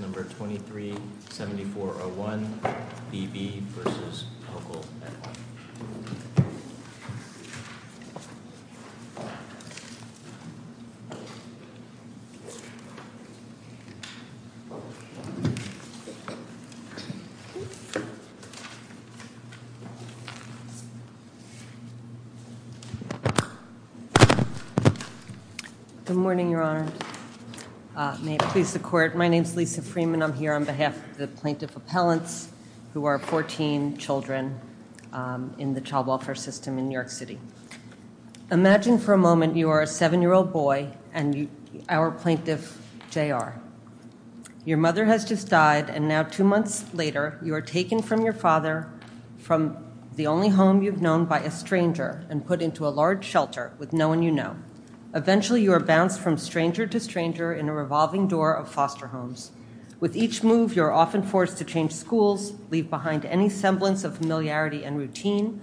at one. Good morning, Your Honor. May it please the Court. My name is Lisa Freedman. I'm here on behalf of the plaintiff appellants who are 14 children in the child welfare system in New York City. Imagine for a moment you are a seven-year-old boy and our plaintiff J.R. Your mother has just died and now two months later you are taken from your father from the only home you've known by a stranger and put into a large shelter with no one you know. Eventually you are bounced from stranger to stranger in a revolving door of foster homes. With each move you are often forced to change schools, leave behind any semblance of familiarity and routine.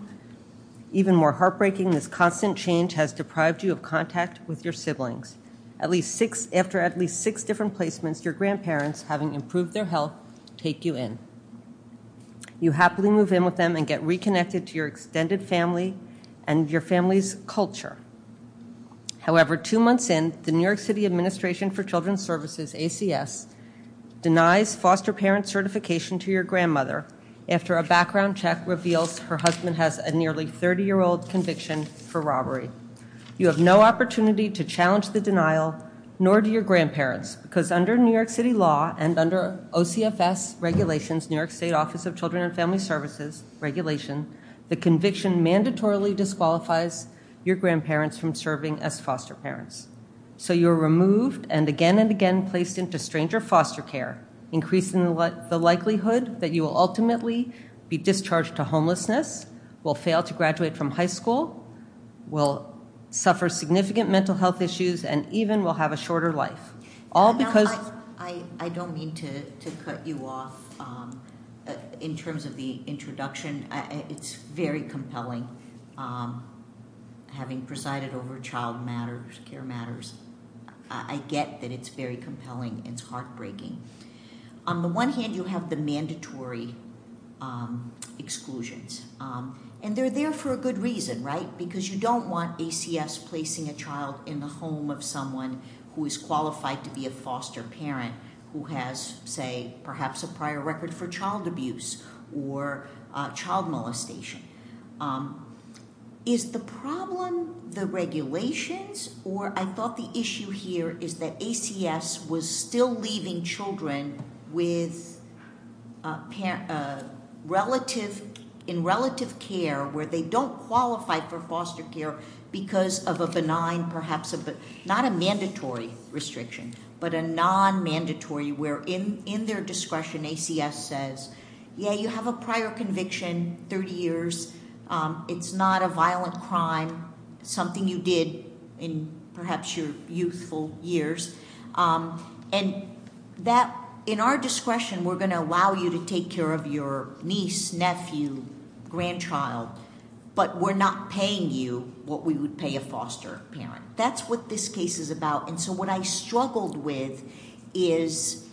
Even more heartbreaking, this constant change has deprived you of contact with your siblings. After at least six different placements, your grandparents, having improved their health, take you in. You happily move in with them and get reconnected to your extended family and your family's culture. However, two months in, the New York City Administration for Children's Services, ACS, denies foster parent certification to your grandmother after a background check reveals her husband has a nearly 30-year-old conviction for robbery. You have no opportunity to challenge the denial, nor do your grandparents, because under New York City law and under OCFS regulations, New York State Office of Children and Family Services regulation, the conviction mandatorily disqualifies your grandparents from serving as foster parents. So you are removed and again and again placed into stranger foster care, increasing the likelihood that you will ultimately be discharged to homelessness, will fail to graduate from high school, will suffer significant mental health issues, and even will have a shorter life. All because... I don't mean to cut you off in terms of the introduction. It's very compelling, having presided over Child Care Matters, I get that it's very compelling and it's heartbreaking. On the one hand, you have the mandatory exclusions. And they're there for a good reason, right? Because you don't want ACS placing a child in the home of someone who is qualified to be a foster parent who has, say, perhaps a prior record for child abuse or child molestation. Is the problem the regulations? Or I thought the issue here is that ACS was still leaving children in relative care where they don't qualify for foster care because of a benign, perhaps, not a mandatory restriction, but a non-mandatory where in their discretion ACS says, yeah, you have a prior conviction, 30 years, it's not a violent crime, something you did in perhaps your youthful years. And that, in our discretion, we're going to allow you to take care of your niece, nephew, grandchild, but we're not paying you what we would pay a foster parent. That's what this case is about. And so what I struggled with is,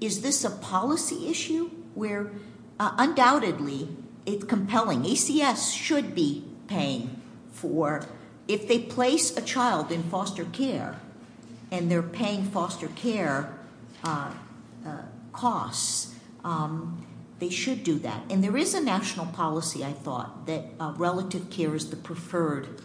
is this a policy issue where undoubtedly it's compelling. ACS should be paying for, if they place a child in foster care and they're paying foster care costs, they should do that. And there is a national policy, I thought, that relative care is the preferred,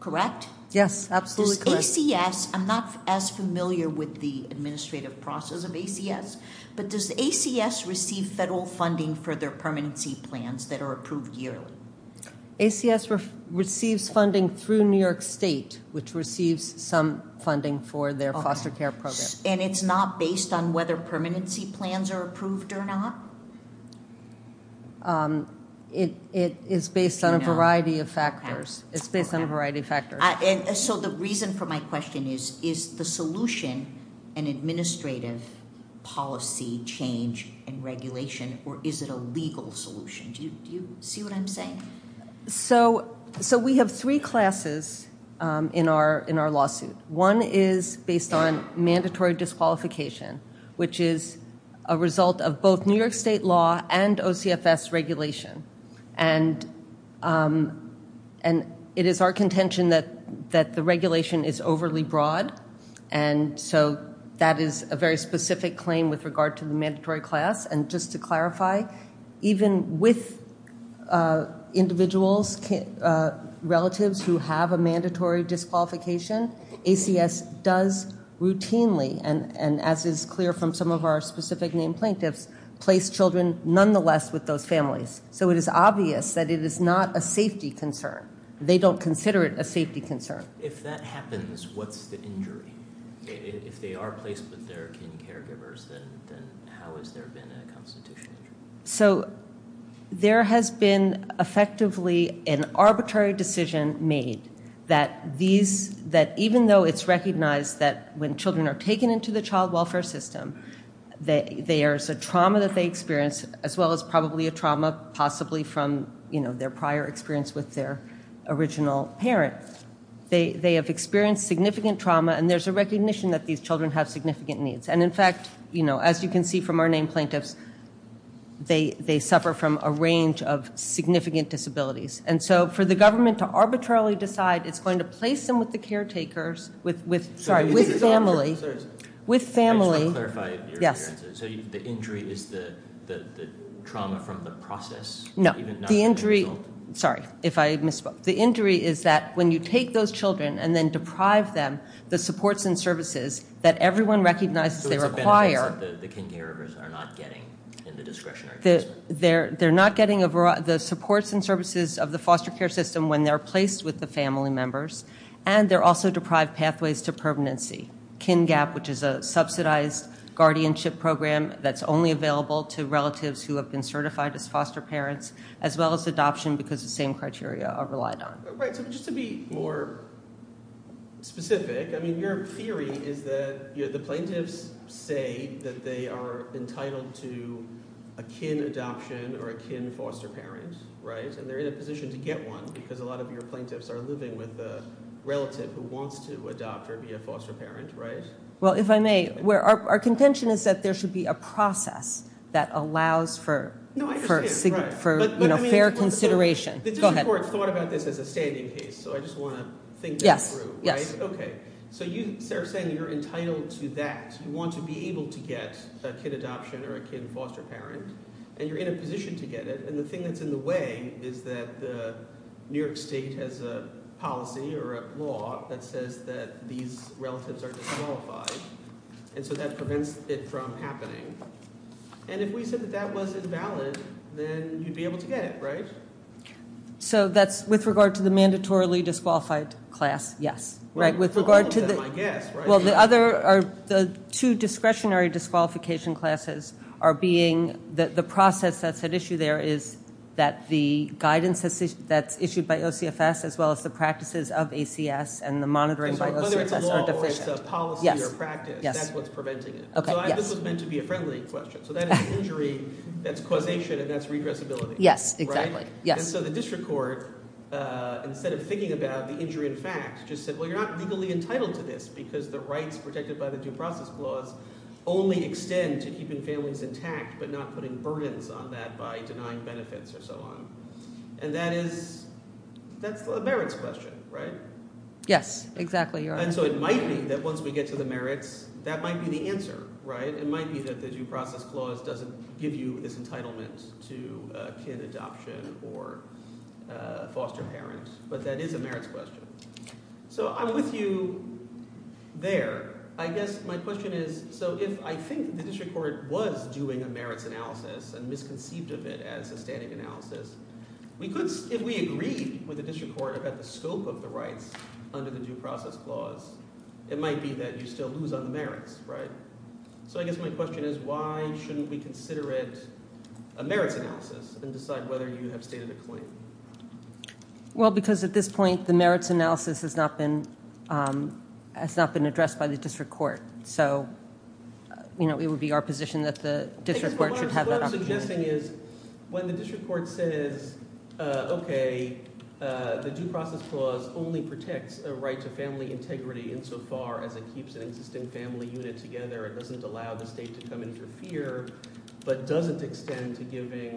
correct? Yes, absolutely correct. Does ACS, I'm not as familiar with the administrative process of ACS, but does ACS receive federal funding for their permanency plans that are approved yearly? ACS receives funding through New York State, which receives some funding for their foster care program. And it's not based on whether permanency plans are approved or not? It is based on a variety of factors. It's based on a variety of factors. So the reason for my question is, is the solution an administrative policy change in regulation or is it a legal solution? Do you see what I'm saying? So we have three classes in our lawsuit. One is based on mandatory disqualification, which is a result of both New York State law and OCFS regulation. And it is our contention that the regulation is overly broad. And so that is a very specific claim with regard to the mandatory class. And just to clarify, even with individuals, relatives who have a mandatory disqualification, ACS does routinely, and as is clear from some of our specific named plaintiffs, place children nonetheless with those families. So it is obvious that it is not a safety concern. They don't consider it a safety concern. If that happens, what's the injury? If they are placed with their kin caregivers, then how has there been a constitutional injury? So there has been effectively an arbitrary decision made that these, that even though it's recognized that when children are taken into the child welfare system, there's a trauma that they experience, as well as probably a trauma possibly from their prior experience with their original parent. They have experienced significant trauma, and there's a recognition that these children have significant needs. And in fact, as you can see from our named plaintiffs, they suffer from a range of significant disabilities. And so for the government to arbitrarily decide it's going to place them with the caretakers, sorry, with family. I just want to clarify your experiences. So the injury is the trauma from the process? No. The injury, sorry, if I misspoke. The injury is that when you take those children and then deprive them the supports and services that everyone recognizes they require. So it's a benefit that the kin caregivers are not getting in the discretionary placement? They're not getting the supports and services of the foster care system when they're placed with the family members. And they're also deprived pathways to permanency. KinGAP, which is a subsidized guardianship program that's only available to relatives who have been certified as foster parents, as well as adoption because the same criteria are relied on. Right. So just to be more specific, I mean, your theory is that the plaintiffs say that they are entitled to a kin adoption or a kin foster parent, right? And they're in a position to get one because a lot of your plaintiffs are living with a relative who wants to adopt or be a foster parent, right? Well, if I may, our contention is that there should be a process that allows for fair consideration. The district court thought about this as a standing case, so I just want to think that through, right? Yes. Okay. So you are saying you're entitled to that. You want to be able to get a kin adoption or a kin foster parent, and you're in a position to get it. And the thing that's in the way is that New York State has a policy or a law that says that these relatives are disqualified, and so that prevents it from happening. And if we said that that was invalid, then you'd be able to get it, right? So that's with regard to the mandatorily disqualified class, yes. Right. With regard to the... Well, the two discretionary disqualification classes are being... The process that's at issue there is that the guidance that's issued by OCFS as well as the practices of ACS and the monitoring by OCFS are deficient. So whether it's a law or it's a policy or practice, that's what's preventing it. Okay. Yes. So this was meant to be a friendly question. So that is an injury that's causation and that's redressability. Yes, exactly. Right? Yes. And so the district court, instead of thinking about the injury in fact, just said, well, you're not legally entitled to this because the rights protected by the due process clause only extend to keeping families intact, but not putting burdens on that by denying benefits or so on. And that is... That's the merits question, right? Yes, exactly. You're right. And so it might be that once we get to the merits, that might be the answer, right? It might be that the due process clause doesn't give you this entitlement to a kid adoption or a foster parent, but that is a merits question. So I'm with you there. I guess my question is, so if I think the district court was doing a merits analysis and misconceived of it as a standing analysis, if we agree with the district court about the scope of the rights under the due process clause, it might be that you still lose on the merits, right? So I guess my question is, why shouldn't we consider it a merits analysis and decide whether you have stated a claim? Well, because at this point, the merits analysis has not been addressed by the district court. So it would be our position that the district court should have that opportunity. What I'm suggesting is, when the district court says, okay, the due process clause only protects a right to family integrity insofar as it keeps an existing family unit together, it doesn't allow the state to come in for fear, but doesn't extend to giving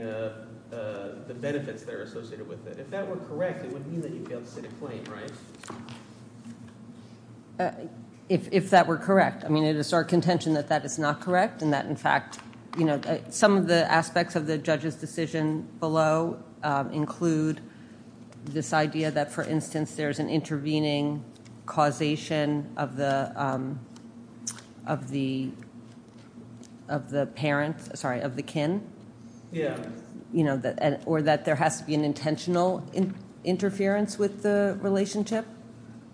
the benefits that are associated with it. If that were correct, it would mean that you failed to state a claim, right? If that were correct. I mean, it is our contention that that is not correct and that, in fact, some of the aspects of the judge's decision below include this idea that, for instance, there's an intervening causation of the kin, or that there has to be an intentional interference with the relationship,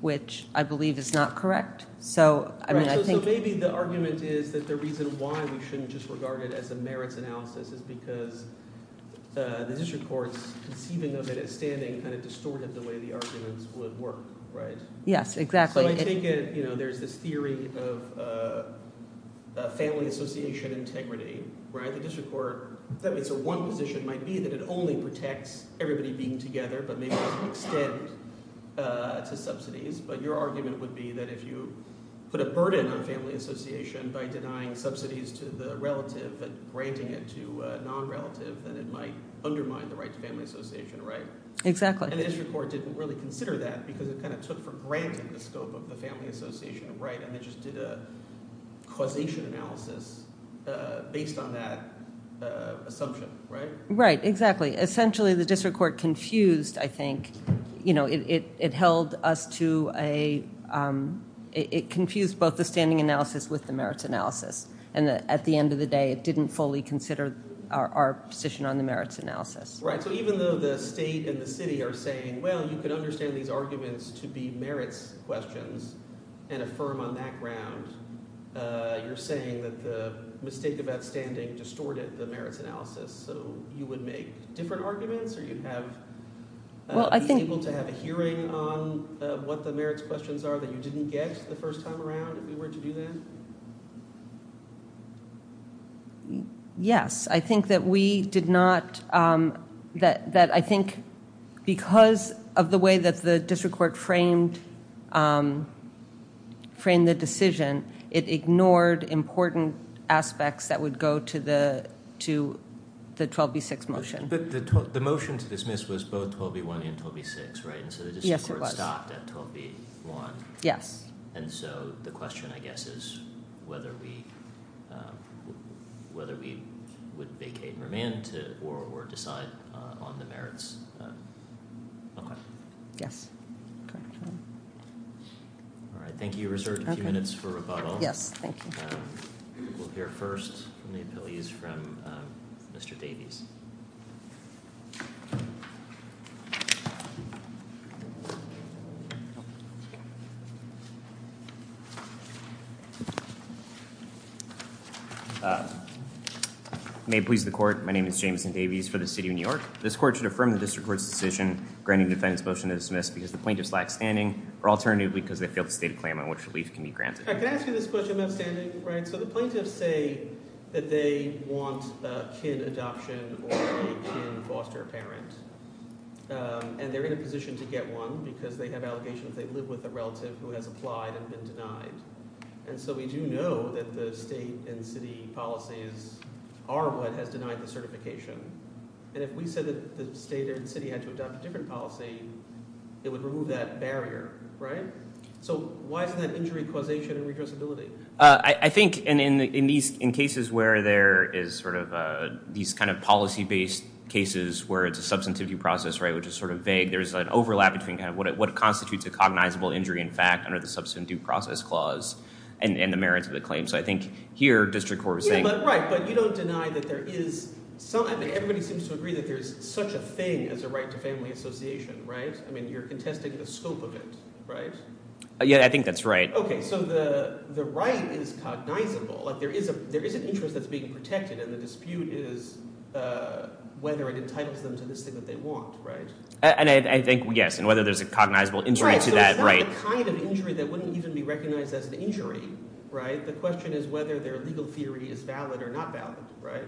which I believe is not correct. So maybe the argument is that the reason why we shouldn't just regard it as a merits analysis is because the district court's conceiving of it as standing kind of distorted the way the arguments would work, right? Yes, exactly. So I take it, you know, there's this theory of family association integrity, right? The district court, so one position might be that it only protects everybody being together, but maybe doesn't extend to subsidies, but your argument would be that if you put a burden on family association by denying subsidies to the relative and granting it to a non-relative, then it might undermine the right to family association, right? Exactly. And the district court didn't really consider that because it kind of took for granted the scope of the family association, right? And they just did a causation analysis based on that assumption, right? Right, exactly. Essentially, the district court confused, I think, you know, it held us to a, it confused both the standing analysis with the merits analysis. And at the end of the day, it didn't fully consider our position on the merits analysis. Right, so even though the state and the city are saying, well, you can understand these arguments to be merits questions and affirm on that ground, you're saying that the mistake about standing distorted the merits analysis, so you would make different arguments or you'd have, be able to have a hearing on what the merits questions are that you didn't get the first time around if you were to do that? Yes, I think that we did not, that I think because of the way that the district court framed the decision, it ignored important aspects that would go to the 12B6 motion. But the motion to dismiss was both 12B1 and 12B6, right? Yes, it was. And so the district whether we would vacate and remand or decide on the merits. Okay. Yes. All right, thank you. We'll reserve a few minutes for rebuttal. Yes, thank you. We'll hear first from the May it please the court. My name is Jameson Davies for the city of New York. This court should affirm the district court's decision granting defendant's motion to dismiss because the plaintiff's lack standing or alternatively because they feel the state of claim on which relief can be granted. I can ask you this question about standing, right? So the plaintiffs say that they want a kid adoption or a kid foster parent and they're in a position to get one because they have allegations they live with a relative who has applied and been So we do know that the state and city policies are what has denied the certification. And if we said that the state and city had to adopt a different policy, it would remove that barrier, right? So why isn't that injury causation and redressability? I think in these in cases where there is sort of these kind of policy based cases where it's a substantivity process, right, which is sort of vague, there's an overlap between kind of what constitutes a cognizable injury in fact under the substantive process clause and the merits of the claim. So I think here district court is saying... Yeah, but right, but you don't deny that there is some, I mean everybody seems to agree that there's such a thing as a right to family association, right? I mean you're contesting the scope of it, right? Yeah, I think that's right. Okay, so the right is cognizable, like there is an interest that's being protected and the dispute is whether it entitles them to this thing that they want, right? And I think, yes, and whether there's a cognizable injury to that, right. Right, so it's not the kind of injury that wouldn't even be recognized as an injury, right? The question is whether their legal theory is valid or not valid, right?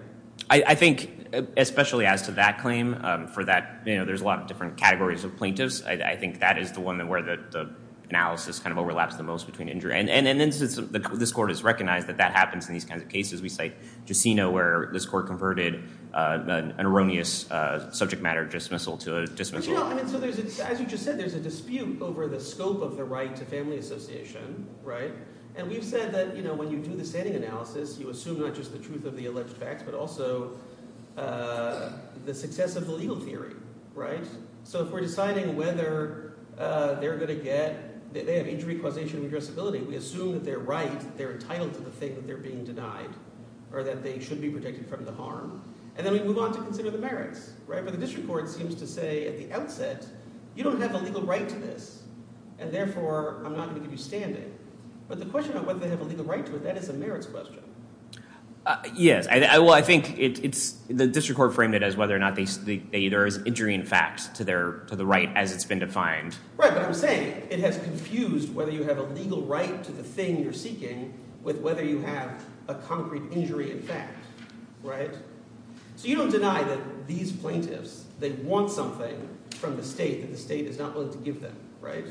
I think, especially as to that claim, for that, you know, there's a lot of different categories of plaintiffs. I think that is the one where the analysis kind of overlaps the most between injury. And this court has recognized that that happens in these kinds of cases. We cite Jusino where this court converted an erroneous subject matter dismissal to a dismissal. No, I mean, so there's, as you just said, there's a dispute over the scope of the right to family association, right? And we've said that, you know, when you do the standing analysis, you assume not just the truth of the alleged facts, but also the success of the legal theory, right? So if we're deciding whether they're going to get, they have injury causation and addressability, we assume that they're right, they're entitled to the thing that they're being denied, or that they should be protected from the harm. And then we move on to consider the merits, right? But the district court seems to say at the outset, you don't have a legal right to this, and therefore I'm not going to give you standing. But the question of whether they have a legal right to it, that is a merits question. Yes. Well, I think it's, the district court framed it as whether or not there is injury in fact to their, to the right as it's been defined. Right, but I'm saying it has confused whether you have a legal right to the thing you're saying with whether you have a concrete injury in fact, right? So you don't deny that these plaintiffs, they want something from the state that the state is not willing to give them, right?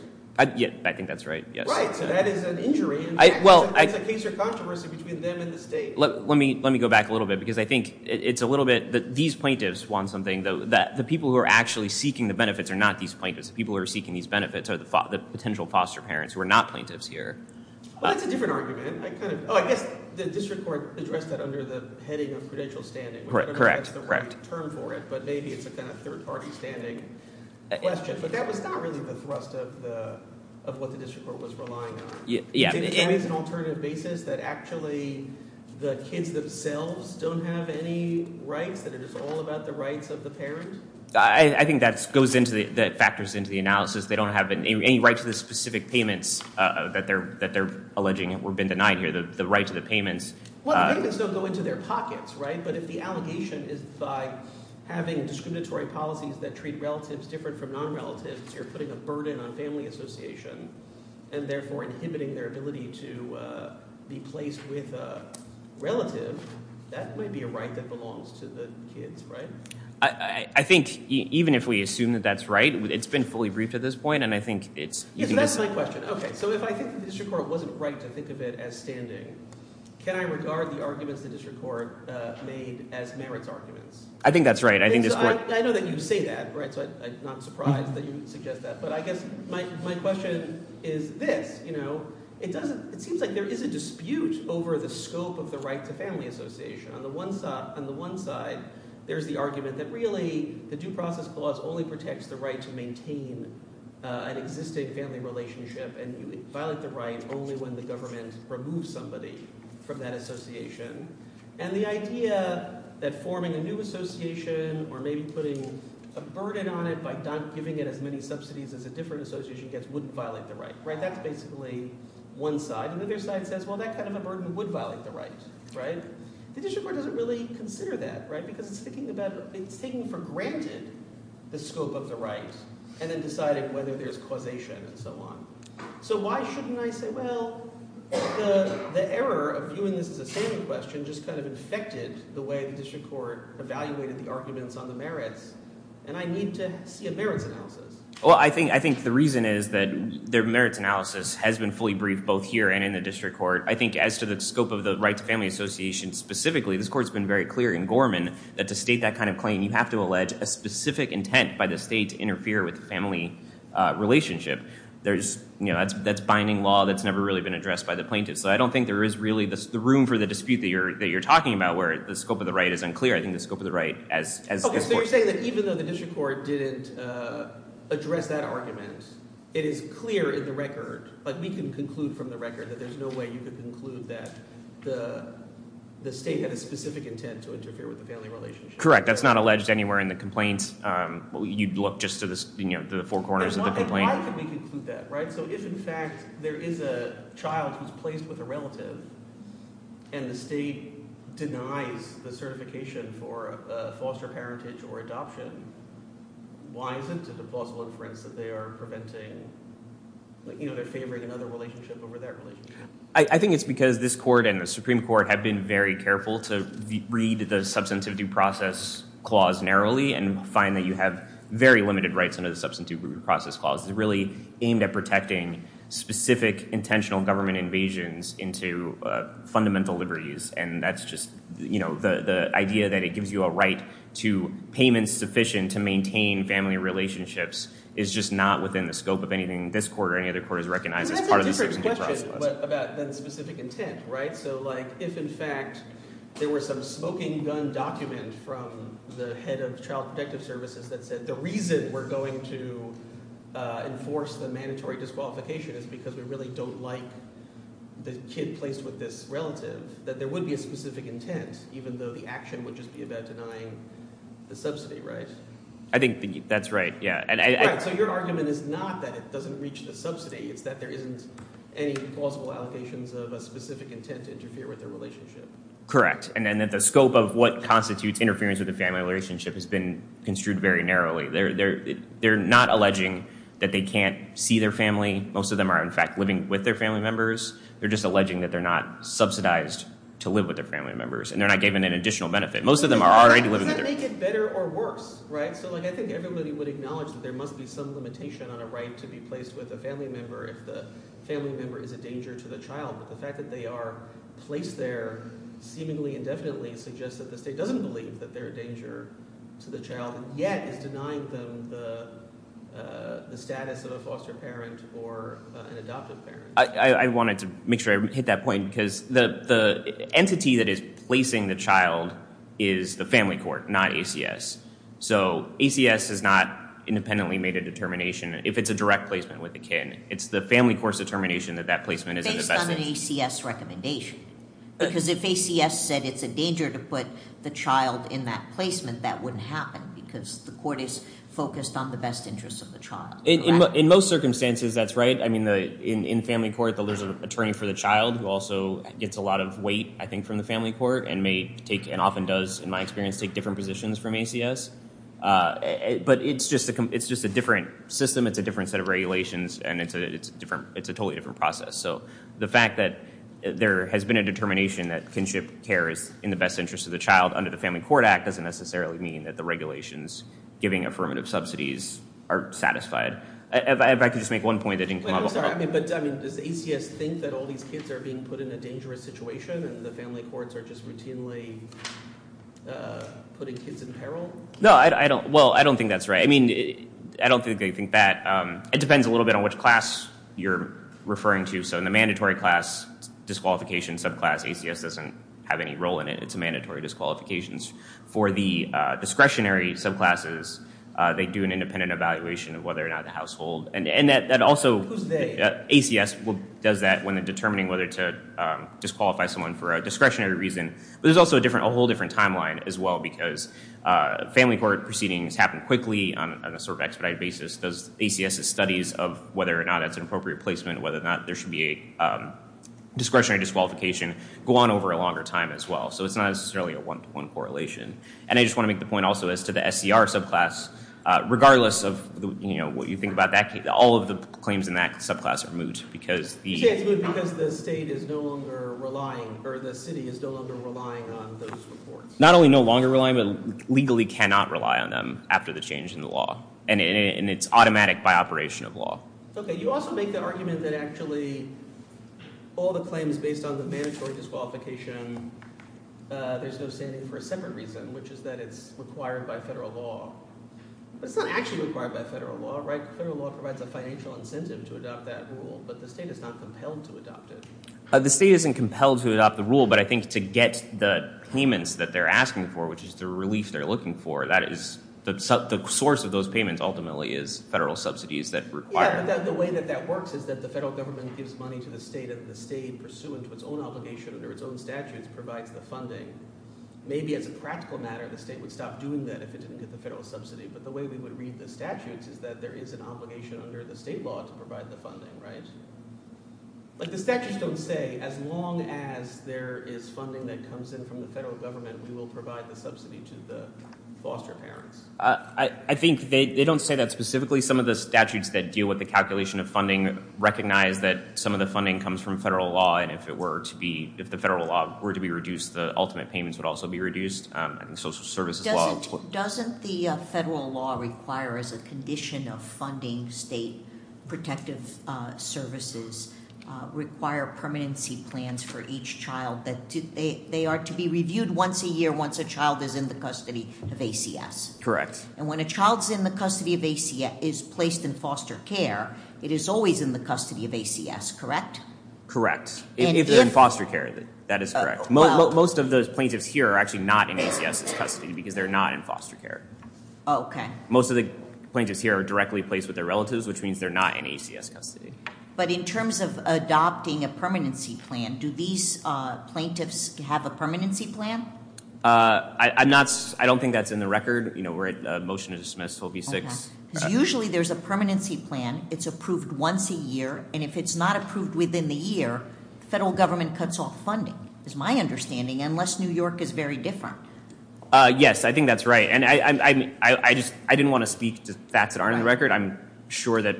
Yeah, I think that's right, yes. Right, so that is an injury in fact. It's a case of controversy between them and the state. Let me go back a little bit, because I think it's a little bit that these plaintiffs want something that the people who are actually seeking the benefits are not these plaintiffs. The people who are seeking these benefits are the potential foster parents who are not plaintiffs here. Well, that's a different argument. I kind of, oh, I guess the district court addressed that under the heading of prudential standing. Correct, correct. I don't know if that's the right term for it, but maybe it's a kind of third-party standing question. But that was not really the thrust of what the district court was relying on. Yeah. Is there an alternative basis that actually the kids themselves don't have any rights, that it is all about the rights of the parent? I think that goes into the, that factors into the analysis. They don't have any rights to the specific payments that they're alleging have been denied here, the right to the payments. Well, the payments don't go into their pockets, right? But if the allegation is by having discriminatory policies that treat relatives different from non-relatives, you're putting a burden on family association, and therefore inhibiting their ability to be placed with a relative, that might be a right that belongs to the kids, right? I think even if we assume that that's right, it's been fully briefed at this point, and I think it's... Yes, and that's my question. Okay, so if I think that the district court wasn't right to think of it as standing, can I regard the arguments the district court made as merits arguments? I think that's right. I think this point... I know that you say that, right? So I'm not surprised that you suggest that. But I guess my question is this, you know, it doesn't, it seems like there is a dispute over the scope of the right to family association. On the one side, there's the argument that really the due process clause only protects the right to maintain an existing family relationship and you violate the right only when the government removes somebody from that association. And the idea that forming a new association or maybe putting a burden on it by not giving it as many subsidies as a different association gets wouldn't violate the right, right? That's basically one side. The other side says, well, that kind of a burden would violate the right, right? The scope of the right and then deciding whether there's causation and so on. So why shouldn't I say, well, the error of viewing this as a saving question just kind of infected the way the district court evaluated the arguments on the merits and I need to see a merits analysis. Well, I think, I think the reason is that their merits analysis has been fully briefed both here and in the district court. I think as to the scope of the right to family association specifically, this court's been very clear in Gorman that to state that kind of claim, you have to allege a specific intent by the state to interfere with the family relationship. There's, you know, that's binding law that's never really been addressed by the plaintiffs. So I don't think there is really the room for the dispute that you're talking about where the scope of the right is unclear. I think the scope of the right as this court. Okay, so you're saying that even though the district court didn't address that argument, it is clear in the record, like we can conclude from the record, that there's no way you could conclude that the state had a specific intent to interfere with the family relationship. Correct. That's not alleged anywhere in the complaints. You'd look just to the, you know, the four corners of the complaint. Why could we conclude that, right? So if in fact there is a child who's placed with a relative and the state denies the certification for foster parentage or adoption, why isn't it a plausible inference that they are preventing, like, you know, they're favoring another relationship over their relationship? I think it's because this court and the Supreme Court have been very careful to read the substantive due process clause narrowly and find that you have very limited rights under the substantive due process clause. It's really aimed at protecting specific intentional government invasions into fundamental liberties. And that's just, you know, the idea that it gives you a right to payments sufficient to maintain family relationships is just not within the scope of anything this court or any other court has recognized as part of the substantive due process clause. But that's a different question about that specific intent, right? So, like, if in fact there were some smoking gun document from the head of Child Protective Services that said the reason we're going to enforce the mandatory disqualification is because we really don't like the kid placed with this relative, that there would be a specific intent, even though the action would just be about denying the subsidy, right? I think that's right. Yeah. So your argument is not that it doesn't reach the subsidy. It's that there isn't any plausible allegations of a specific intent to interfere with their relationship. Correct. And then the scope of what constitutes interference with the family relationship has been construed very narrowly. They're not alleging that they can't see their family. Most of them are, in fact, living with their family members. They're just alleging that they're not subsidized to live with their family members and they're not given an additional benefit. Most of them are already living with their family. Does that make it better or worse, right? So, like, I think everybody would acknowledge that there must be some limitation on a right to be placed with a family member if the family member is a danger to the child. But the fact that they are placed there seemingly indefinitely suggests that the state doesn't believe that they're a danger to the child and yet is denying them the status of a foster parent or an adoptive parent. I wanted to make sure I hit that point because the entity that is placing the child is the family court, not ACS. So, ACS has not independently made a determination. If it's a direct placement with a kid, it's the family court's determination that that placement is in the best interest. Based on an ACS recommendation. Because if ACS said it's a danger to put the child in that placement, that wouldn't happen because the court is focused on the best interest of the child. In most circumstances, that's right. I mean, in family court, there's an attorney for the child who also gets a lot of weight, I think, from the family court and often does, in my experience, take different positions from ACS. But it's just a different system. It's a different set of regulations and it's a totally different process. So, the fact that there has been a determination that kinship care is in the best interest of the child under the Family Court Act doesn't necessarily mean that the regulations giving affirmative subsidies are satisfied. If I could just make one point that didn't come up. I'm sorry, but does ACS think that all these kids are being put in a dangerous situation and the family courts are just routinely putting kids in peril? No, well, I don't think that's right. I mean, I don't think they think that. It depends a little bit on which class you're referring to. So, in the mandatory class disqualification subclass, ACS doesn't have any role in it. It's a mandatory disqualification. For the discretionary subclasses, they do an independent evaluation of whether or not the household. Who's they? ACS does that when they're determining whether to disqualify someone for a discretionary reason. But there's also a whole different timeline, as well, because family court proceedings happen quickly on a sort of expedited basis. ACS's studies of whether or not it's an appropriate placement, whether or not there should be a discretionary disqualification, go on over a longer time, as well. So it's not necessarily a one-to-one correlation. And I just want to make the point, also, as to the SCR subclass, regardless of what you think about that, all of the claims in that subclass are moot because the- You say it's moot because the state is no longer relying, or the city is no longer relying on those reports. Not only no longer relying, but legally cannot rely on them after the change in the law. And it's automatic by operation of law. Okay, you also make the argument that actually all the claims based on the mandatory disqualification, there's no standing for a separate reason, which is that it's required by federal law. But it's not actually required by federal law, right? Federal law provides a financial incentive to adopt that rule, but the state is not compelled to adopt it. The state isn't compelled to adopt the rule, but I think to get the payments that they're asking for, which is the relief they're looking for, that is- The source of those payments, ultimately, is federal subsidies that require- Yeah, but the way that that works is that the federal government gives money to the state, and the state, pursuant to its own obligation under its own statutes, provides the funding. Maybe as a practical matter, the state would stop doing that if it didn't get the federal subsidy, but the way we would read the statutes is that there is an obligation under the state law to provide the funding, right? But the statutes don't say, as long as there is funding that comes in from the federal government, we will provide the subsidy to the foster parents. I think they don't say that specifically. Some of the statutes that deal with the calculation of funding recognize that some of the funding comes from federal law, and if the federal law were to be reduced, the ultimate payments would also be reduced, and social services law- Doesn't the federal law require, as a condition of funding state protective services, require permanency plans for each child that they are to be reviewed once a year once a child is in the custody of ACS? And when a child is in the custody of ACS, is placed in foster care, it is always in the custody of ACS, correct? Correct. If they're in foster care, that is correct. Most of those plaintiffs here are actually not in ACS's custody because they're not in foster care. Okay. Most of the plaintiffs here are directly placed with their relatives, which means they're not in ACS custody. But in terms of adopting a permanency plan, do these plaintiffs have a permanency plan? I'm not- I don't think that's in the record. You know, we're at a motion to dismiss, so it'll be six. Because usually there's a permanency plan. It's approved once a year, and if it's not approved within the year, the federal government cuts off funding, is my understanding, unless New York is very different. Yes, I think that's right, and I didn't want to speak to facts that aren't in the record. I'm sure that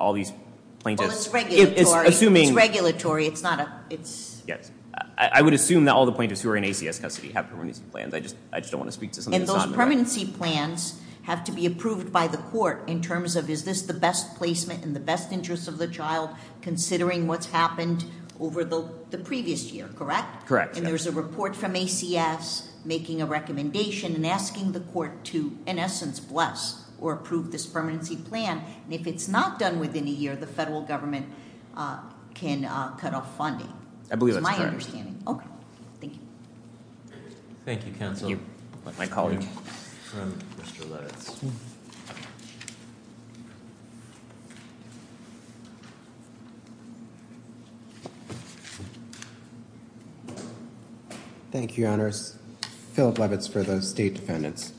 all these plaintiffs- Well, it's regulatory. It's assuming- It's regulatory. It's not a- Yes. I would assume that all the plaintiffs who are in ACS custody have permanency plans. I just don't want to speak to something that's not in the record. And those permanency plans have to be approved by the court in terms of, is this the best placement in the best interest of the child, considering what's happened over the previous year, correct? Correct. And there's a report from ACS making a recommendation and asking the court to, in essence, bless or approve this permanency plan. And if it's not done within a year, the federal government can cut off funding. I believe that's correct. That's my understanding. Okay. Thank you. Thank you, counsel. Thank you, my colleague. From Mr. Levitz. Thank you, Your Honors. Philip Levitz for the state defendants.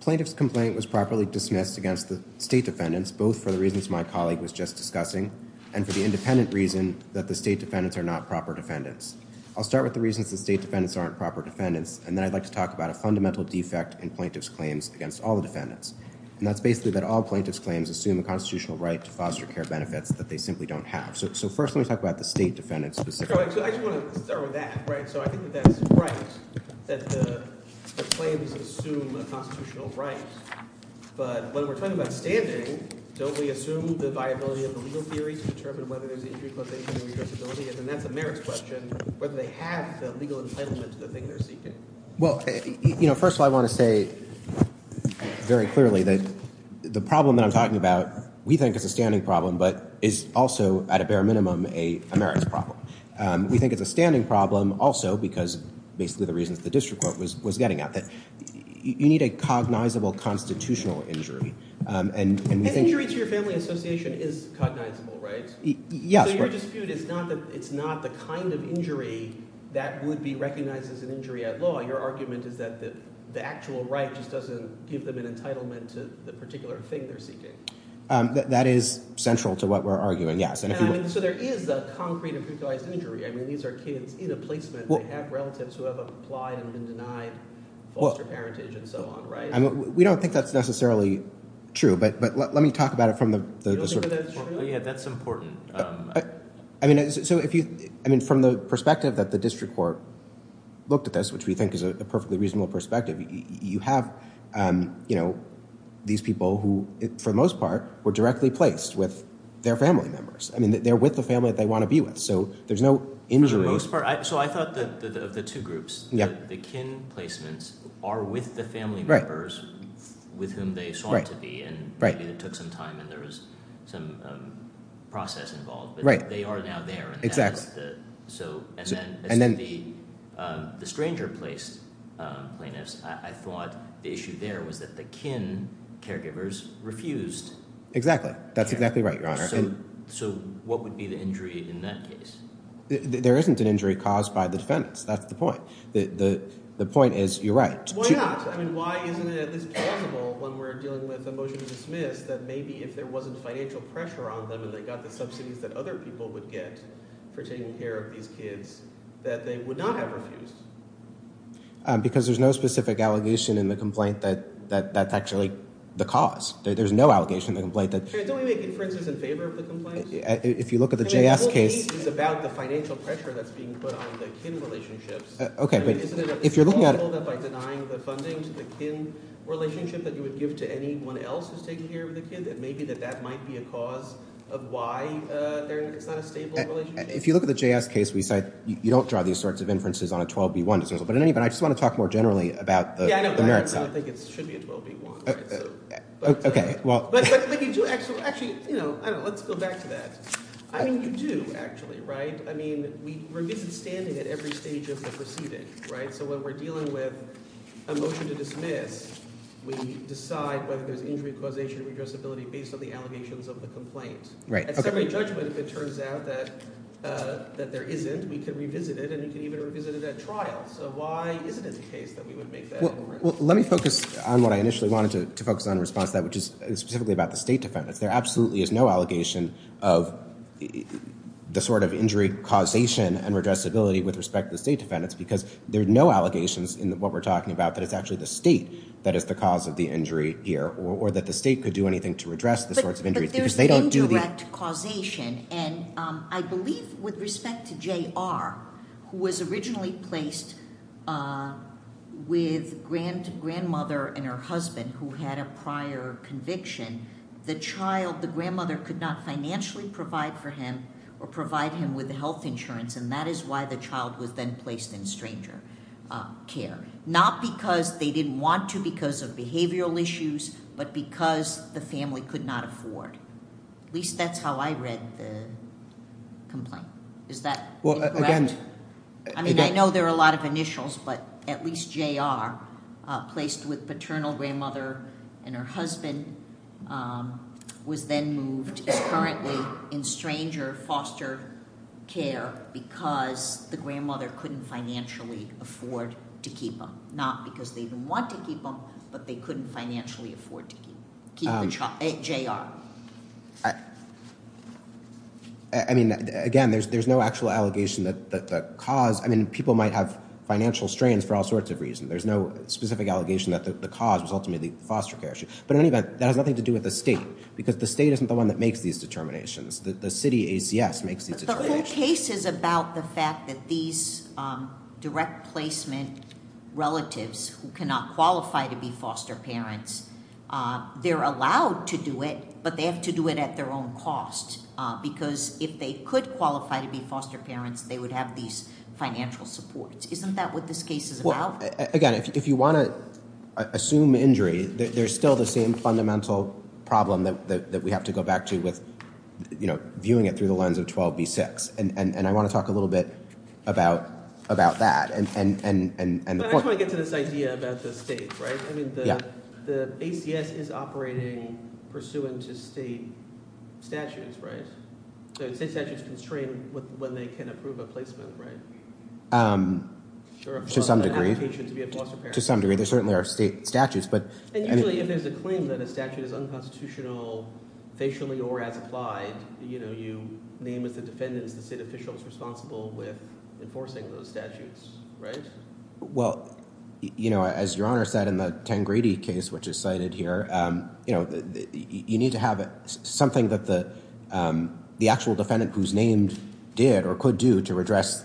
Plaintiff's complaint was properly dismissed against the state defendants, both for the reasons my colleague was just discussing and for the independent reason that the state defendants are not proper defendants. I'll start with the reasons the state defendants aren't proper defendants, and then I'd like to talk about a fundamental defect in plaintiff's claims against all the defendants. And that's basically that all plaintiff's claims assume a constitutional right to foster care benefits that they simply don't have. So first let me talk about the state defendants specifically. So I just want to start with that, right? So I think that that's right, that the claims assume a constitutional right. But when we're talking about standing, don't we assume the viability of the legal theory to determine whether there's injury causation or irreversibility? And that's a merits question, whether they have the legal entitlement to the thing they're seeking. Well, you know, first of all, I want to say very clearly that the problem that I'm talking about, we think is a standing problem, but is also, at a bare minimum, a merits problem. We think it's a standing problem also because basically the reasons the district court was getting at, that you need a cognizable constitutional injury. And injury to your family association is cognizable, right? Yes. So your dispute is not that it's not the kind of injury that would be recognized as an injury at law. Your argument is that the actual right just doesn't give them an entitlement to the particular thing they're seeking. That is central to what we're arguing, yes. So there is a concrete and particularized injury. I mean, these are kids in a placement. They have relatives who have applied and been denied foster parentage and so on, right? We don't think that's necessarily true, but let me talk about it from the sort of – You don't think that's true? Yeah, that's important. I mean, from the perspective that the district court looked at this, which we think is a perfectly reasonable perspective, you have these people who, for the most part, were directly placed with their family members. I mean, they're with the family that they want to be with, so there's no injury. For the most part? So I thought of the two groups. The kin placements are with the family members with whom they sought to be, and it took some time and there was some process involved, but they are now there. And then the stranger placed plaintiffs, I thought the issue there was that the kin caregivers refused. Exactly. That's exactly right, Your Honor. So what would be the injury in that case? There isn't an injury caused by the defendants. That's the point. The point is you're right. Why not? I mean, why isn't it at least plausible when we're dealing with a motion to dismiss that maybe if there wasn't financial pressure on them and they got the subsidies that other people would get for taking care of these kids that they would not have refused? Because there's no specific allegation in the complaint that that's actually the cause. There's no allegation in the complaint that – Don't we make inferences in favor of the complaint? If you look at the JS case – I mean, the whole case is about the financial pressure that's being put on the kin relationships. Okay, but if you're looking at – I mean, isn't it at least plausible that by denying the funding to the kin relationship that you would give to anyone else who's taking care of the kid, that maybe that that might be a cause of why it's not a stable relationship? If you look at the JS case, we said you don't draw these sorts of inferences on a 12B1. But in any event, I just want to talk more generally about the merits side. I don't think it should be a 12B1. Okay, well – But you do – actually, let's go back to that. I mean, you do actually, right? I mean, we're misunderstanding at every stage of the proceeding. So when we're dealing with a motion to dismiss, we decide whether there's injury causation and redressability based on the allegations of the complaint. Right, okay. At summary judgment, if it turns out that there isn't, we can revisit it, and we can even revisit it at trial. So why isn't it the case that we would make that inquiry? Well, let me focus on what I initially wanted to focus on in response to that, which is specifically about the state defendants. There absolutely is no allegation of the sort of injury causation and redressability with respect to the state defendants because there are no allegations in what we're talking about that it's actually the state that is the cause of the injury here or that the state could do anything to redress the sorts of injuries. But there's indirect causation, and I believe with respect to J.R., who was originally placed with grandmother and her husband who had a prior conviction, the child, the grandmother, could not financially provide for him or provide him with health insurance, and that is why the child was then placed in stranger care, not because they didn't want to because of behavioral issues, but because the family could not afford. At least that's how I read the complaint. Is that correct? Well, again- I mean, I know there are a lot of initials, but at least J.R., placed with paternal grandmother and her husband, was then moved, is currently in stranger foster care because the grandmother couldn't financially afford to keep him, not because they didn't want to keep him, but they couldn't financially afford to keep the child. J.R. I mean, again, there's no actual allegation that the cause- I mean, people might have financial strains for all sorts of reasons. There's no specific allegation that the cause was ultimately the foster care issue. But in any event, that has nothing to do with the state because the state isn't the one that makes these determinations. The city ACS makes these determinations. But the whole case is about the fact that these direct placement relatives who cannot qualify to be foster parents, they're allowed to do it, but they have to do it at their own cost because if they could qualify to be foster parents, they would have these financial supports. Isn't that what this case is about? Well, again, if you want to assume injury, there's still the same fundamental problem that we have to go back to with viewing it through the lens of 12b-6, and I want to talk a little bit about that. But I just want to get to this idea about the state, right? I mean, the ACS is operating pursuant to state statutes, right? So state statutes constrain when they can approve a placement, right? To some degree. To some degree. There certainly are state statutes, but- And usually if there's a claim that a statute is unconstitutional, facially or as applied, you name as the defendants the state officials responsible with enforcing those statutes, right? Well, as Your Honor said in the Tangrede case, which is cited here, you need to have something that the actual defendant who's named did or could do to redress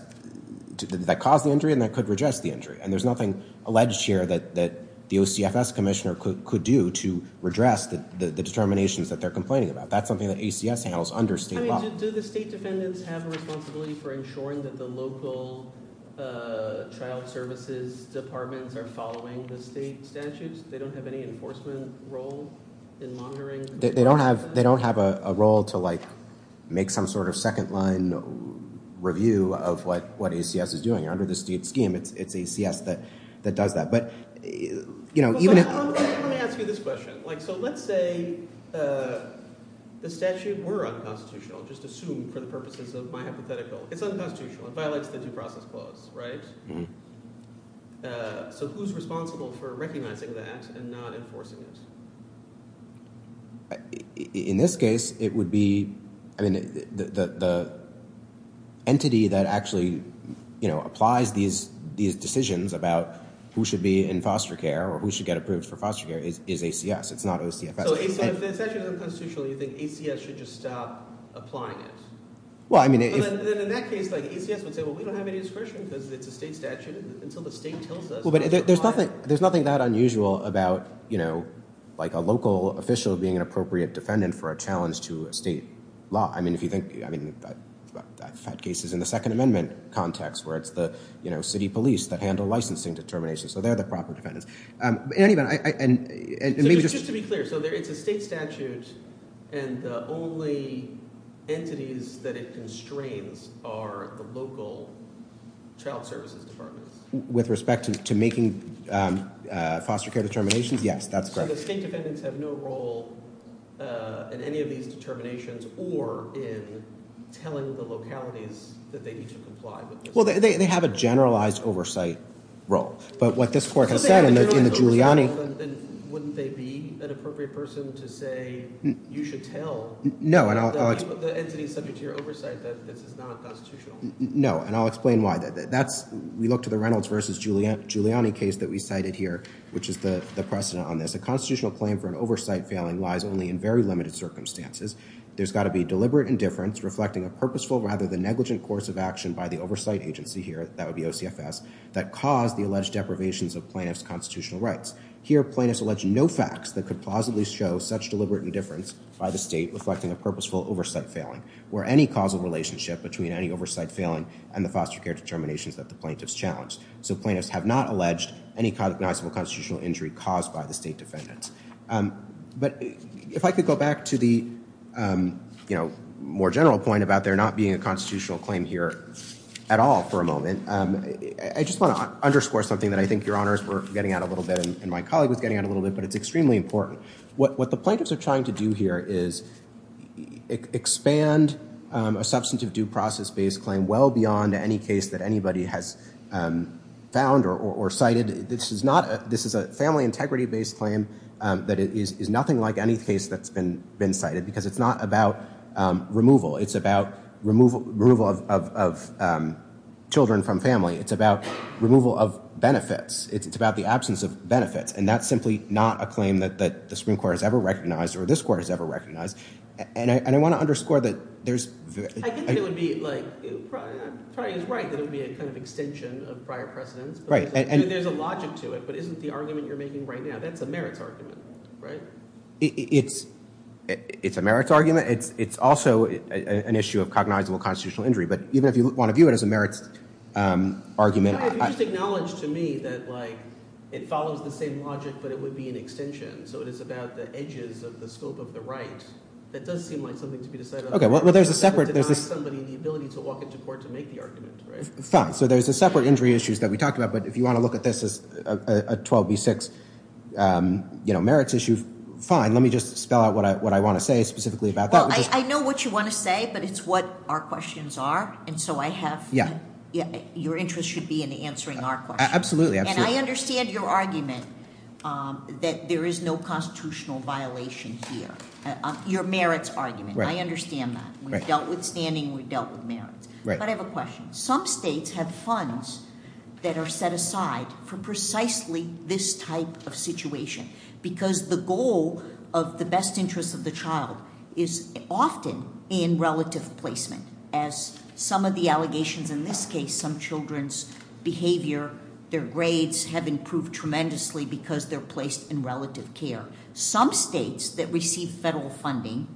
that caused the injury and that could redress the injury. And there's nothing alleged here that the OCFS commissioner could do to redress the determinations that they're complaining about. That's something that ACS handles under state law. I mean, do the state defendants have a responsibility for ensuring that the local child services departments are following the state statutes? They don't have any enforcement role in monitoring? They don't have a role to, like, make some sort of second-line review of what ACS is doing. Under the state scheme, it's ACS that does that. But even if- Let me ask you this question. So let's say the statute were unconstitutional, just assumed for the purposes of my hypothetical. It's unconstitutional. It violates the due process clause, right? So who's responsible for recognizing that and not enforcing it? In this case, it would be the entity that actually applies these decisions about who should be in foster care or who should get approved for foster care is ACS. It's not OCFS. So if the statute is unconstitutional, you think ACS should just stop applying it? Well, I mean- But then in that case, like, ACS would say, well, we don't have any discretion because it's a state statute until the state tells us- Well, but there's nothing that unusual about, you know, like a local official being an appropriate defendant for a challenge to a state law. I mean, if you think- I mean, I've had cases in the Second Amendment context where it's the, you know, city police that handle licensing determinations. So they're the proper defendants. In any event, I- So just to be clear, so it's a state statute and the only entities that it constrains are the local child services departments? With respect to making foster care determinations? Yes, that's correct. So the state defendants have no role in any of these determinations or in telling the localities that they need to comply with this? Well, they have a generalized oversight role. But what this court has said in the Giuliani- So if they have a generalized oversight role, then wouldn't they be an appropriate person to say you should tell- No, and I'll- The entity subject to your oversight that this is not constitutional? No, and I'll explain why. That's- we look to the Reynolds v. Giuliani case that we cited here, which is the precedent on this. A constitutional claim for an oversight failing lies only in very limited circumstances. There's got to be deliberate indifference reflecting a purposeful rather than negligent course of action by the oversight agency here, that would be OCFS, that caused the alleged deprivations of plaintiff's constitutional rights. Here, plaintiffs allege no facts that could plausibly show such deliberate indifference by the state reflecting a purposeful oversight failing, or any causal relationship between any oversight failing and the foster care determinations that the plaintiffs challenged. So plaintiffs have not alleged any cognizable constitutional injury caused by the state defendants. But if I could go back to the more general point about there not being a constitutional claim here at all for a moment, I just want to underscore something that I think your honors were getting at a little bit and my colleague was getting at a little bit, but it's extremely important. What the plaintiffs are trying to do here is expand a substantive due process-based claim well beyond any case that anybody has found or cited. And this is a family integrity-based claim that is nothing like any case that's been cited because it's not about removal. It's about removal of children from family. It's about removal of benefits. It's about the absence of benefits. And that's simply not a claim that the Supreme Court has ever recognized or this Court has ever recognized. And I want to underscore that there's... I think it would be like... Troy is right that it would be a kind of extension of prior precedents. There's a logic to it, but isn't the argument you're making right now, that's a merits argument, right? It's a merits argument. It's also an issue of cognizable constitutional injury. But even if you want to view it as a merits argument... If you just acknowledge to me that, like, it follows the same logic but it would be an extension, so it is about the edges of the scope of the right, that does seem like something to be decided on. Okay, well, there's a separate... It doesn't deny somebody the ability to walk into court to make the argument, right? Fine. So there's separate injury issues that we talked about, but if you want to look at this as a 12 v. 6 merits issue, fine. Let me just spell out what I want to say specifically about that. Well, I know what you want to say, but it's what our questions are, and so I have... Your interest should be in answering our questions. Absolutely. And I understand your argument that there is no constitutional violation here, your merits argument. I understand that. We've dealt with standing, we've dealt with merits. But I have a question. Some states have funds that are set aside for precisely this type of situation because the goal of the best interest of the child is often in relative placement, as some of the allegations in this case, some children's behavior, their grades, have improved tremendously because they're placed in relative care. Some states that receive federal funding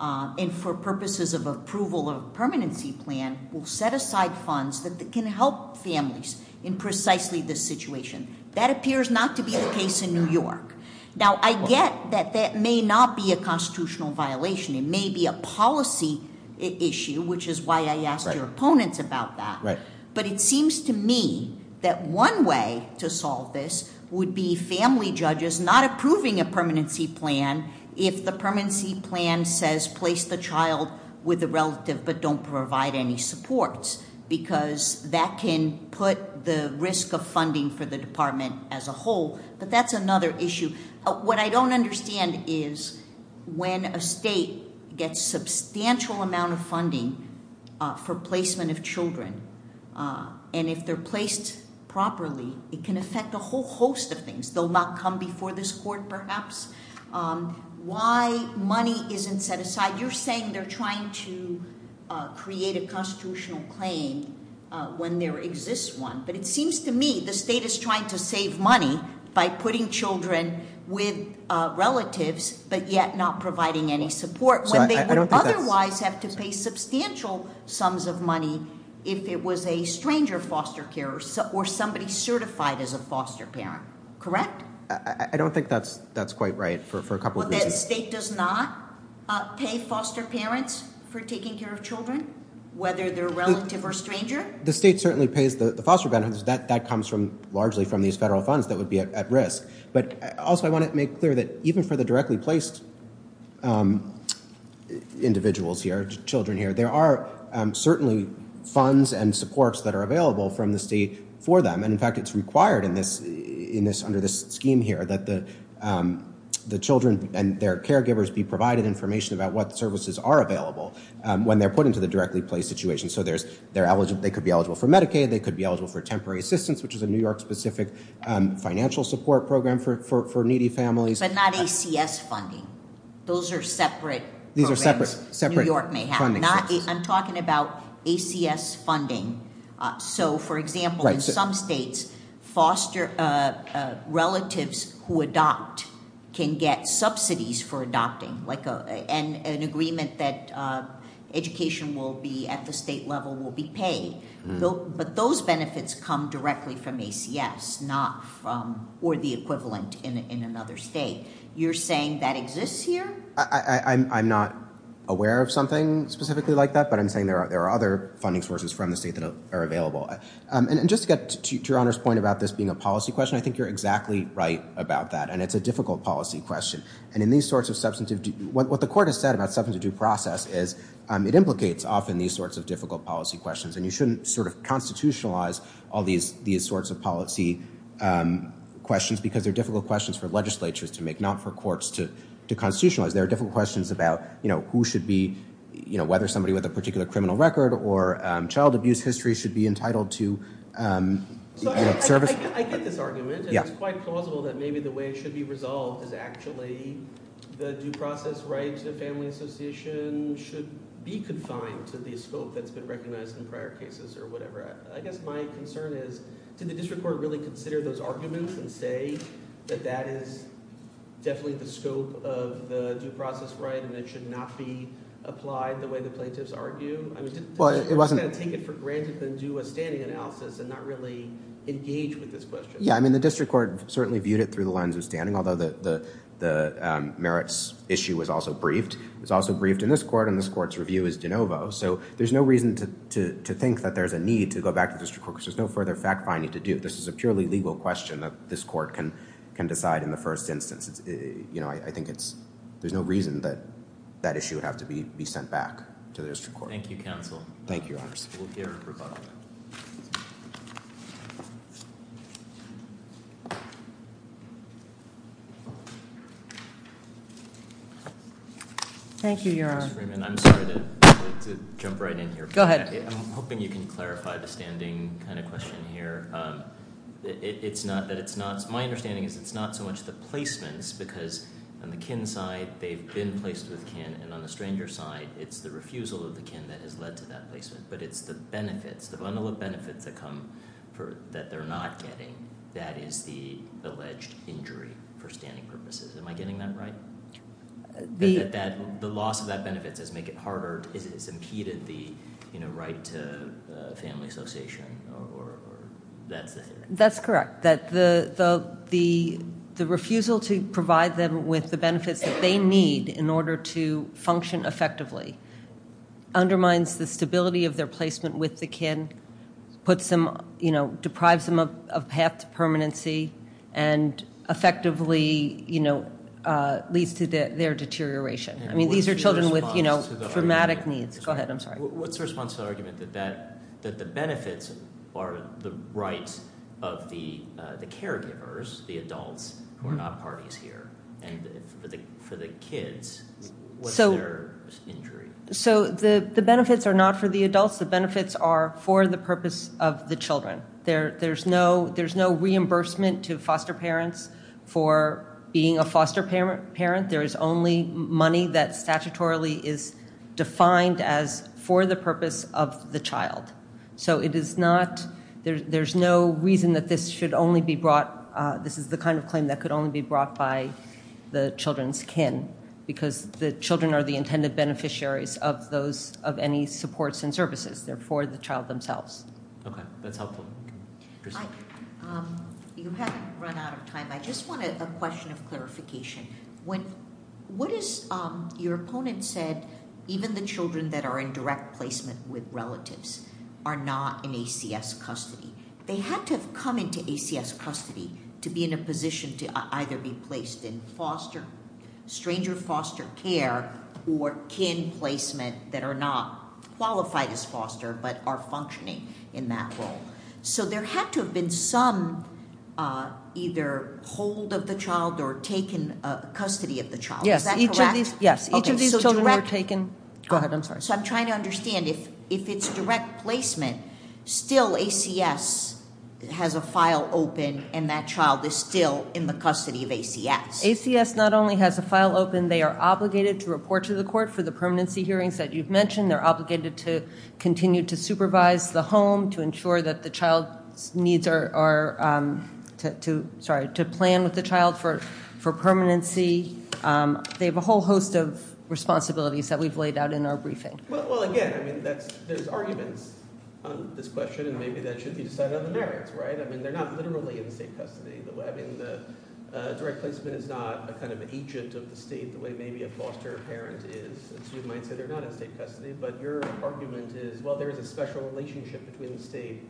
and for purposes of approval of a permanency plan will set aside funds that can help families in precisely this situation. That appears not to be the case in New York. Now, I get that that may not be a constitutional violation. It may be a policy issue, which is why I asked your opponents about that. Right. But it seems to me that one way to solve this would be family judges not approving a permanency plan if the permanency plan says place the child with the relative but don't provide any supports because that can put the risk of funding for the department as a whole. But that's another issue. What I don't understand is when a state gets a substantial amount of funding for placement of children, and if they're placed properly, it can affect a whole host of things. They'll not come before this court, perhaps. Why money isn't set aside? You're saying they're trying to create a constitutional claim when there exists one. But it seems to me the state is trying to save money by putting children with relatives but yet not providing any support when they would otherwise have to pay substantial sums of money if it was a stranger foster care or somebody certified as a foster parent. Correct? I don't think that's quite right for a couple of reasons. The state does not pay foster parents for taking care of children, whether they're a relative or a stranger? The state certainly pays the foster parents. That comes largely from these federal funds that would be at risk. But also I want to make clear that even for the directly placed individuals here, children here, there are certainly funds and supports that are available from the state for them. In fact, it's required under this scheme here that the children and their caregivers be provided information about what services are available when they're put into the directly placed situation. So they could be eligible for Medicaid, they could be eligible for temporary assistance, which is a New York-specific financial support program for needy families. But not ACS funding. Those are separate programs New York may have. I'm talking about ACS funding. So, for example, in some states, foster relatives who adopt can get subsidies for adopting, like an agreement that education at the state level will be paid. But those benefits come directly from ACS, or the equivalent in another state. You're saying that exists here? I'm not aware of something specifically like that, but I'm saying there are other funding sources from the state that are available. And just to get to Your Honor's point about this being a policy question, I think you're exactly right about that. And it's a difficult policy question. What the Court has said about substantive due process is it implicates often these sorts of difficult policy questions. And you shouldn't sort of constitutionalize all these sorts of policy questions because they're difficult questions for legislatures to make, not for courts to constitutionalize. They're difficult questions about who should be, whether somebody with a particular criminal record or child abuse history should be entitled to service. I get this argument. It's quite plausible that maybe the way it should be resolved is actually the due process right to the family association should be confined to the scope that's been recognized in prior cases or whatever. I guess my concern is, did the District Court really consider those arguments and say that that is definitely the scope of the due process right and it should not be applied the way the plaintiffs argue? I mean, did the District Court take it for granted and do a standing analysis and not really engage with this question? Yeah, I mean, the District Court certainly viewed it through the lens of standing, although the merits issue was also briefed. It was also briefed in this Court, and this Court's review is de novo. So there's no reason to think that there's a need to go back to the District Court because there's no further fact-finding to do. This is a purely legal question that this Court can decide in the first instance. You know, I think there's no reason that that issue would have to be sent back to the District Court. Thank you, counsel. Thank you, Your Honor. We'll hear from Rucola. Thank you, Your Honor. Ms. Freeman, I'm sorry to jump right in here. Go ahead. I'm hoping you can clarify the standing kind of question here. It's not that it's not... My understanding is it's not so much the placements because on the kin side, they've been placed with kin, and on the stranger side, it's the refusal of the kin that has led to that placement, but it's the benefits, the bundle of benefits that come that they're not getting that is the alleged injury for standing purposes. Am I getting that right? The loss of that benefit does make it harder. It's impeded the, you know, right to family association, or that's the theory. That's correct. That the refusal to provide them with the benefits that they need in order to function effectively undermines the stability of their placement with the kin, puts them, you know, deprives them of path to permanency, and effectively, you know, leads to their deterioration. I mean, these are children with, you know, dramatic needs. Go ahead. I'm sorry. What's the response to the argument that the benefits are the rights of the caregivers, the adults, who are not parties here, and for the kids, what's their injury? So the benefits are not for the adults. The benefits are for the purpose of the children. There's no reimbursement to foster parents for being a foster parent. There is only money that statutorily is defined as for the purpose of the child. So it is not, there's no reason that this should only be brought, this is the kind of claim that could only be brought by the children's kin, because the children are the intended beneficiaries of those, of any supports and services. They're for the child themselves. Okay. That's helpful. You haven't run out of time. I just wanted a question of clarification. When, what is, your opponent said, even the children that are in direct placement with relatives are not in ACS custody. They have to have come into ACS custody to be in a position to either be placed in foster, stranger foster care, or kin placement that are not qualified as foster but are functioning in that role. So there had to have been some either hold of the child or taken custody of the child. Is that correct? Yes. Each of these children were taken. Go ahead. I'm sorry. So I'm trying to understand. If it's direct placement, still ACS has a file open and that child is still in the custody of ACS. ACS not only has a file open, they are obligated to report to the court for the permanency hearings that you've mentioned. They're obligated to continue to supervise the home to ensure that the child's needs are, sorry, to plan with the child for permanency. They have a whole host of responsibilities that we've laid out in our briefing. Well, again, I mean, there's arguments on this question and maybe that should be decided on the merits, right? I mean, they're not literally in state custody. I mean, direct placement is not a kind of agent of the state the way maybe a foster parent is. So you might say they're not in state custody, but your argument is, well, there is a special relationship between the state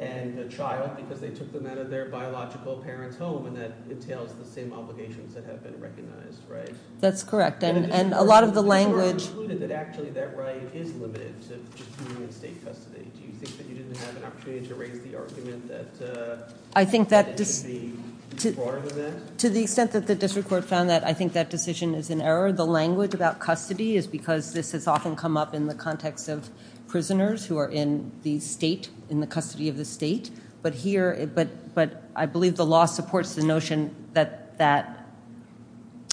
and the child because they took them out of their biological parents' home and that entails the same obligations that have been recognized, right? That's correct. And a lot of the language. You sort of concluded that actually that right is limited to just being in state custody. Do you think that you didn't have an opportunity to raise the argument that it should be broader than that? To the extent that the district court found that, I think that decision is in error. The language about custody is because this has often come up in the context of prisoners who are in the state, in the custody of the state. But I believe the law supports the notion that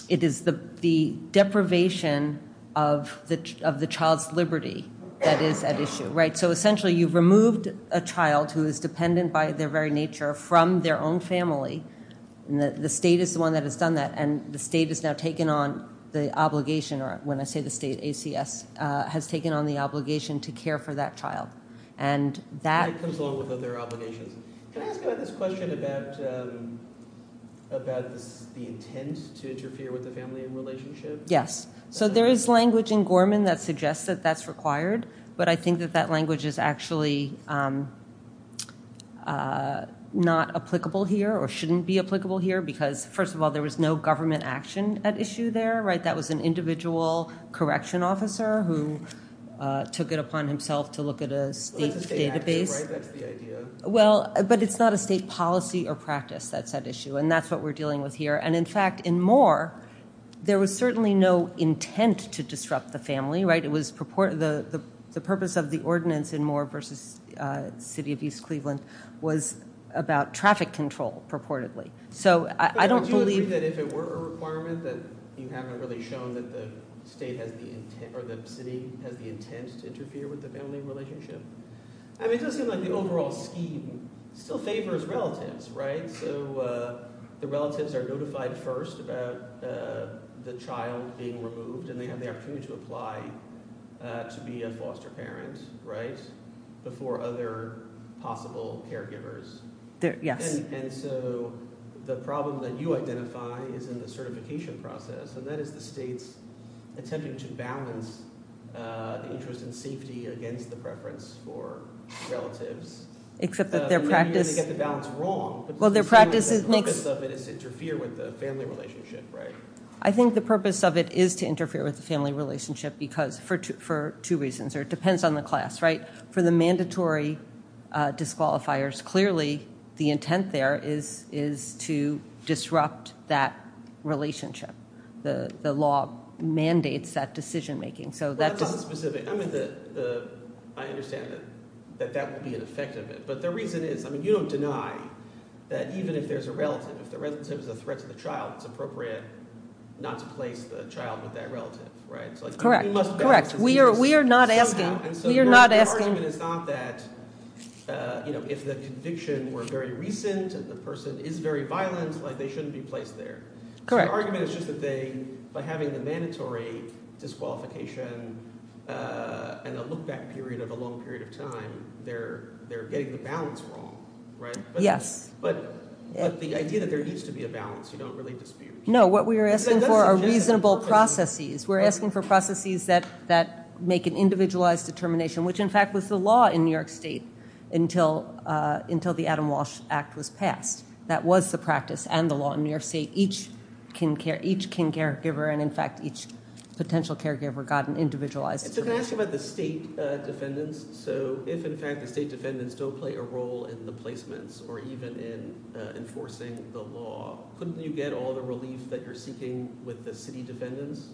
it is the deprivation of the child's liberty that is at issue, right? So essentially you've removed a child who is dependent by their very nature from their own family. The state is the one that has done that, and the state has now taken on the obligation, or when I say the state, ACS, has taken on the obligation to care for that child. That comes along with other obligations. Can I ask about this question about the intent to interfere with the family relationship? Yes. So there is language in Gorman that suggests that that's required, but I think that that language is actually not applicable here or shouldn't be applicable here because, first of all, there was no government action at issue there, right? That was an individual correction officer who took it upon himself to look at a state database. That's a state action, right? That's the idea. Well, but it's not a state policy or practice that's at issue, and that's what we're dealing with here. And, in fact, in Moore, there was certainly no intent to disrupt the family, right? The purpose of the ordinance in Moore v. City of East Cleveland was about traffic control, purportedly. So I don't believe that if it were a requirement, that you haven't really shown that the state has the intent to interfere with the family relationship. I mean, it does seem like the overall scheme still favors relatives, right? So the relatives are notified first about the child being removed, and they have the opportunity to apply to be a foster parent, right, before other possible caregivers. Yes. And so the problem that you identify is in the certification process, and that is the state's attempting to balance the interest in safety against the preference for relatives. Except that their practice. They get the balance wrong. Well, their practice is mixed. The purpose of it is to interfere with the family relationship, right? I think the purpose of it is to interfere with the family relationship for two reasons, or it depends on the class, right? For the mandatory disqualifiers, clearly the intent there is to disrupt that relationship. The law mandates that decision-making. Well, that's not specific. I mean, I understand that that would be an effect of it. But the reason is, I mean, you don't deny that even if there's a relative, if the relative is a threat to the child, it's appropriate not to place the child with that relative, right? Correct. Correct. We are not asking. The argument is not that if the conviction were very recent and the person is very violent, they shouldn't be placed there. Correct. The argument is just that they, by having the mandatory disqualification and a look-back period of a long period of time, they're getting the balance wrong, right? Yes. But the idea that there needs to be a balance, you don't really dispute. No, what we are asking for are reasonable processes. We're asking for processes that make an individualized determination, which, in fact, was the law in New York State until the Adam Walsh Act was passed. That was the practice and the law in New York State. Each caregiver and, in fact, each potential caregiver got an individualized determination. So can I ask you about the state defendants? So if, in fact, the state defendants don't play a role in the placements or even in enforcing the law, couldn't you get all the relief that you're seeking with the city defendants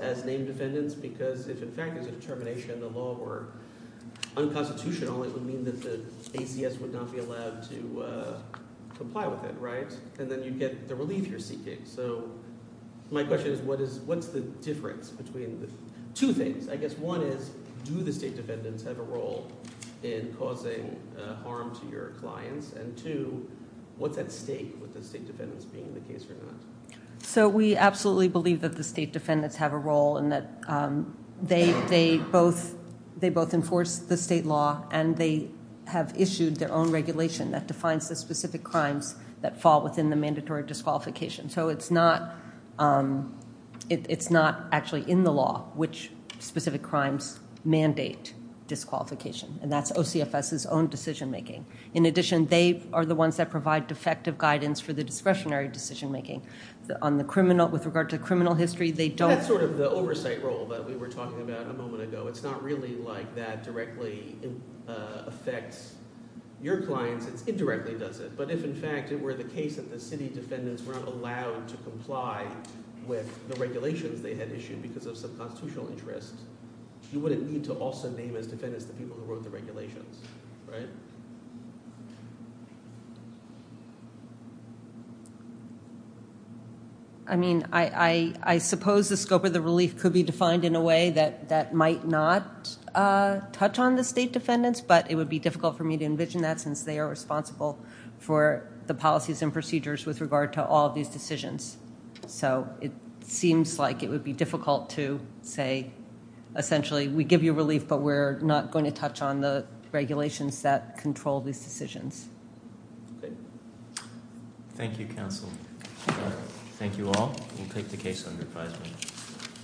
as named defendants? Because if, in fact, there's a determination in the law or unconstitutional, it would mean that the ACS would not be allowed to comply with it, right? And then you'd get the relief you're seeking. So my question is what's the difference between the two things? I guess one is do the state defendants have a role in causing harm to your clients? And two, what's at stake with the state defendants being the case or not? So we absolutely believe that the state defendants have a role and that they both enforce the state law and they have issued their own regulation that defines the specific crimes that fall within the mandatory disqualification. So it's not actually in the law which specific crimes mandate disqualification, and that's OCFS's own decision making. In addition, they are the ones that provide defective guidance for the discretionary decision making. On the criminal, with regard to criminal history, they don't. That's sort of the oversight role that we were talking about a moment ago. It's not really like that directly affects your clients. It indirectly does it. But if, in fact, it were the case that the city defendants were not allowed to comply with the regulations they had issued because of some constitutional interest, you wouldn't need to also name as defendants the people who wrote the regulations, right? I mean, I suppose the scope of the relief could be defined in a way that might not touch on the state defendants, but it would be difficult for me to envision that since they are responsible for the policies and procedures with regard to all of these decisions. So it seems like it would be difficult to say essentially we give you relief but we're not going to touch on the regulations that control these decisions. Thank you, counsel. Thank you all. We'll take the case under advisement.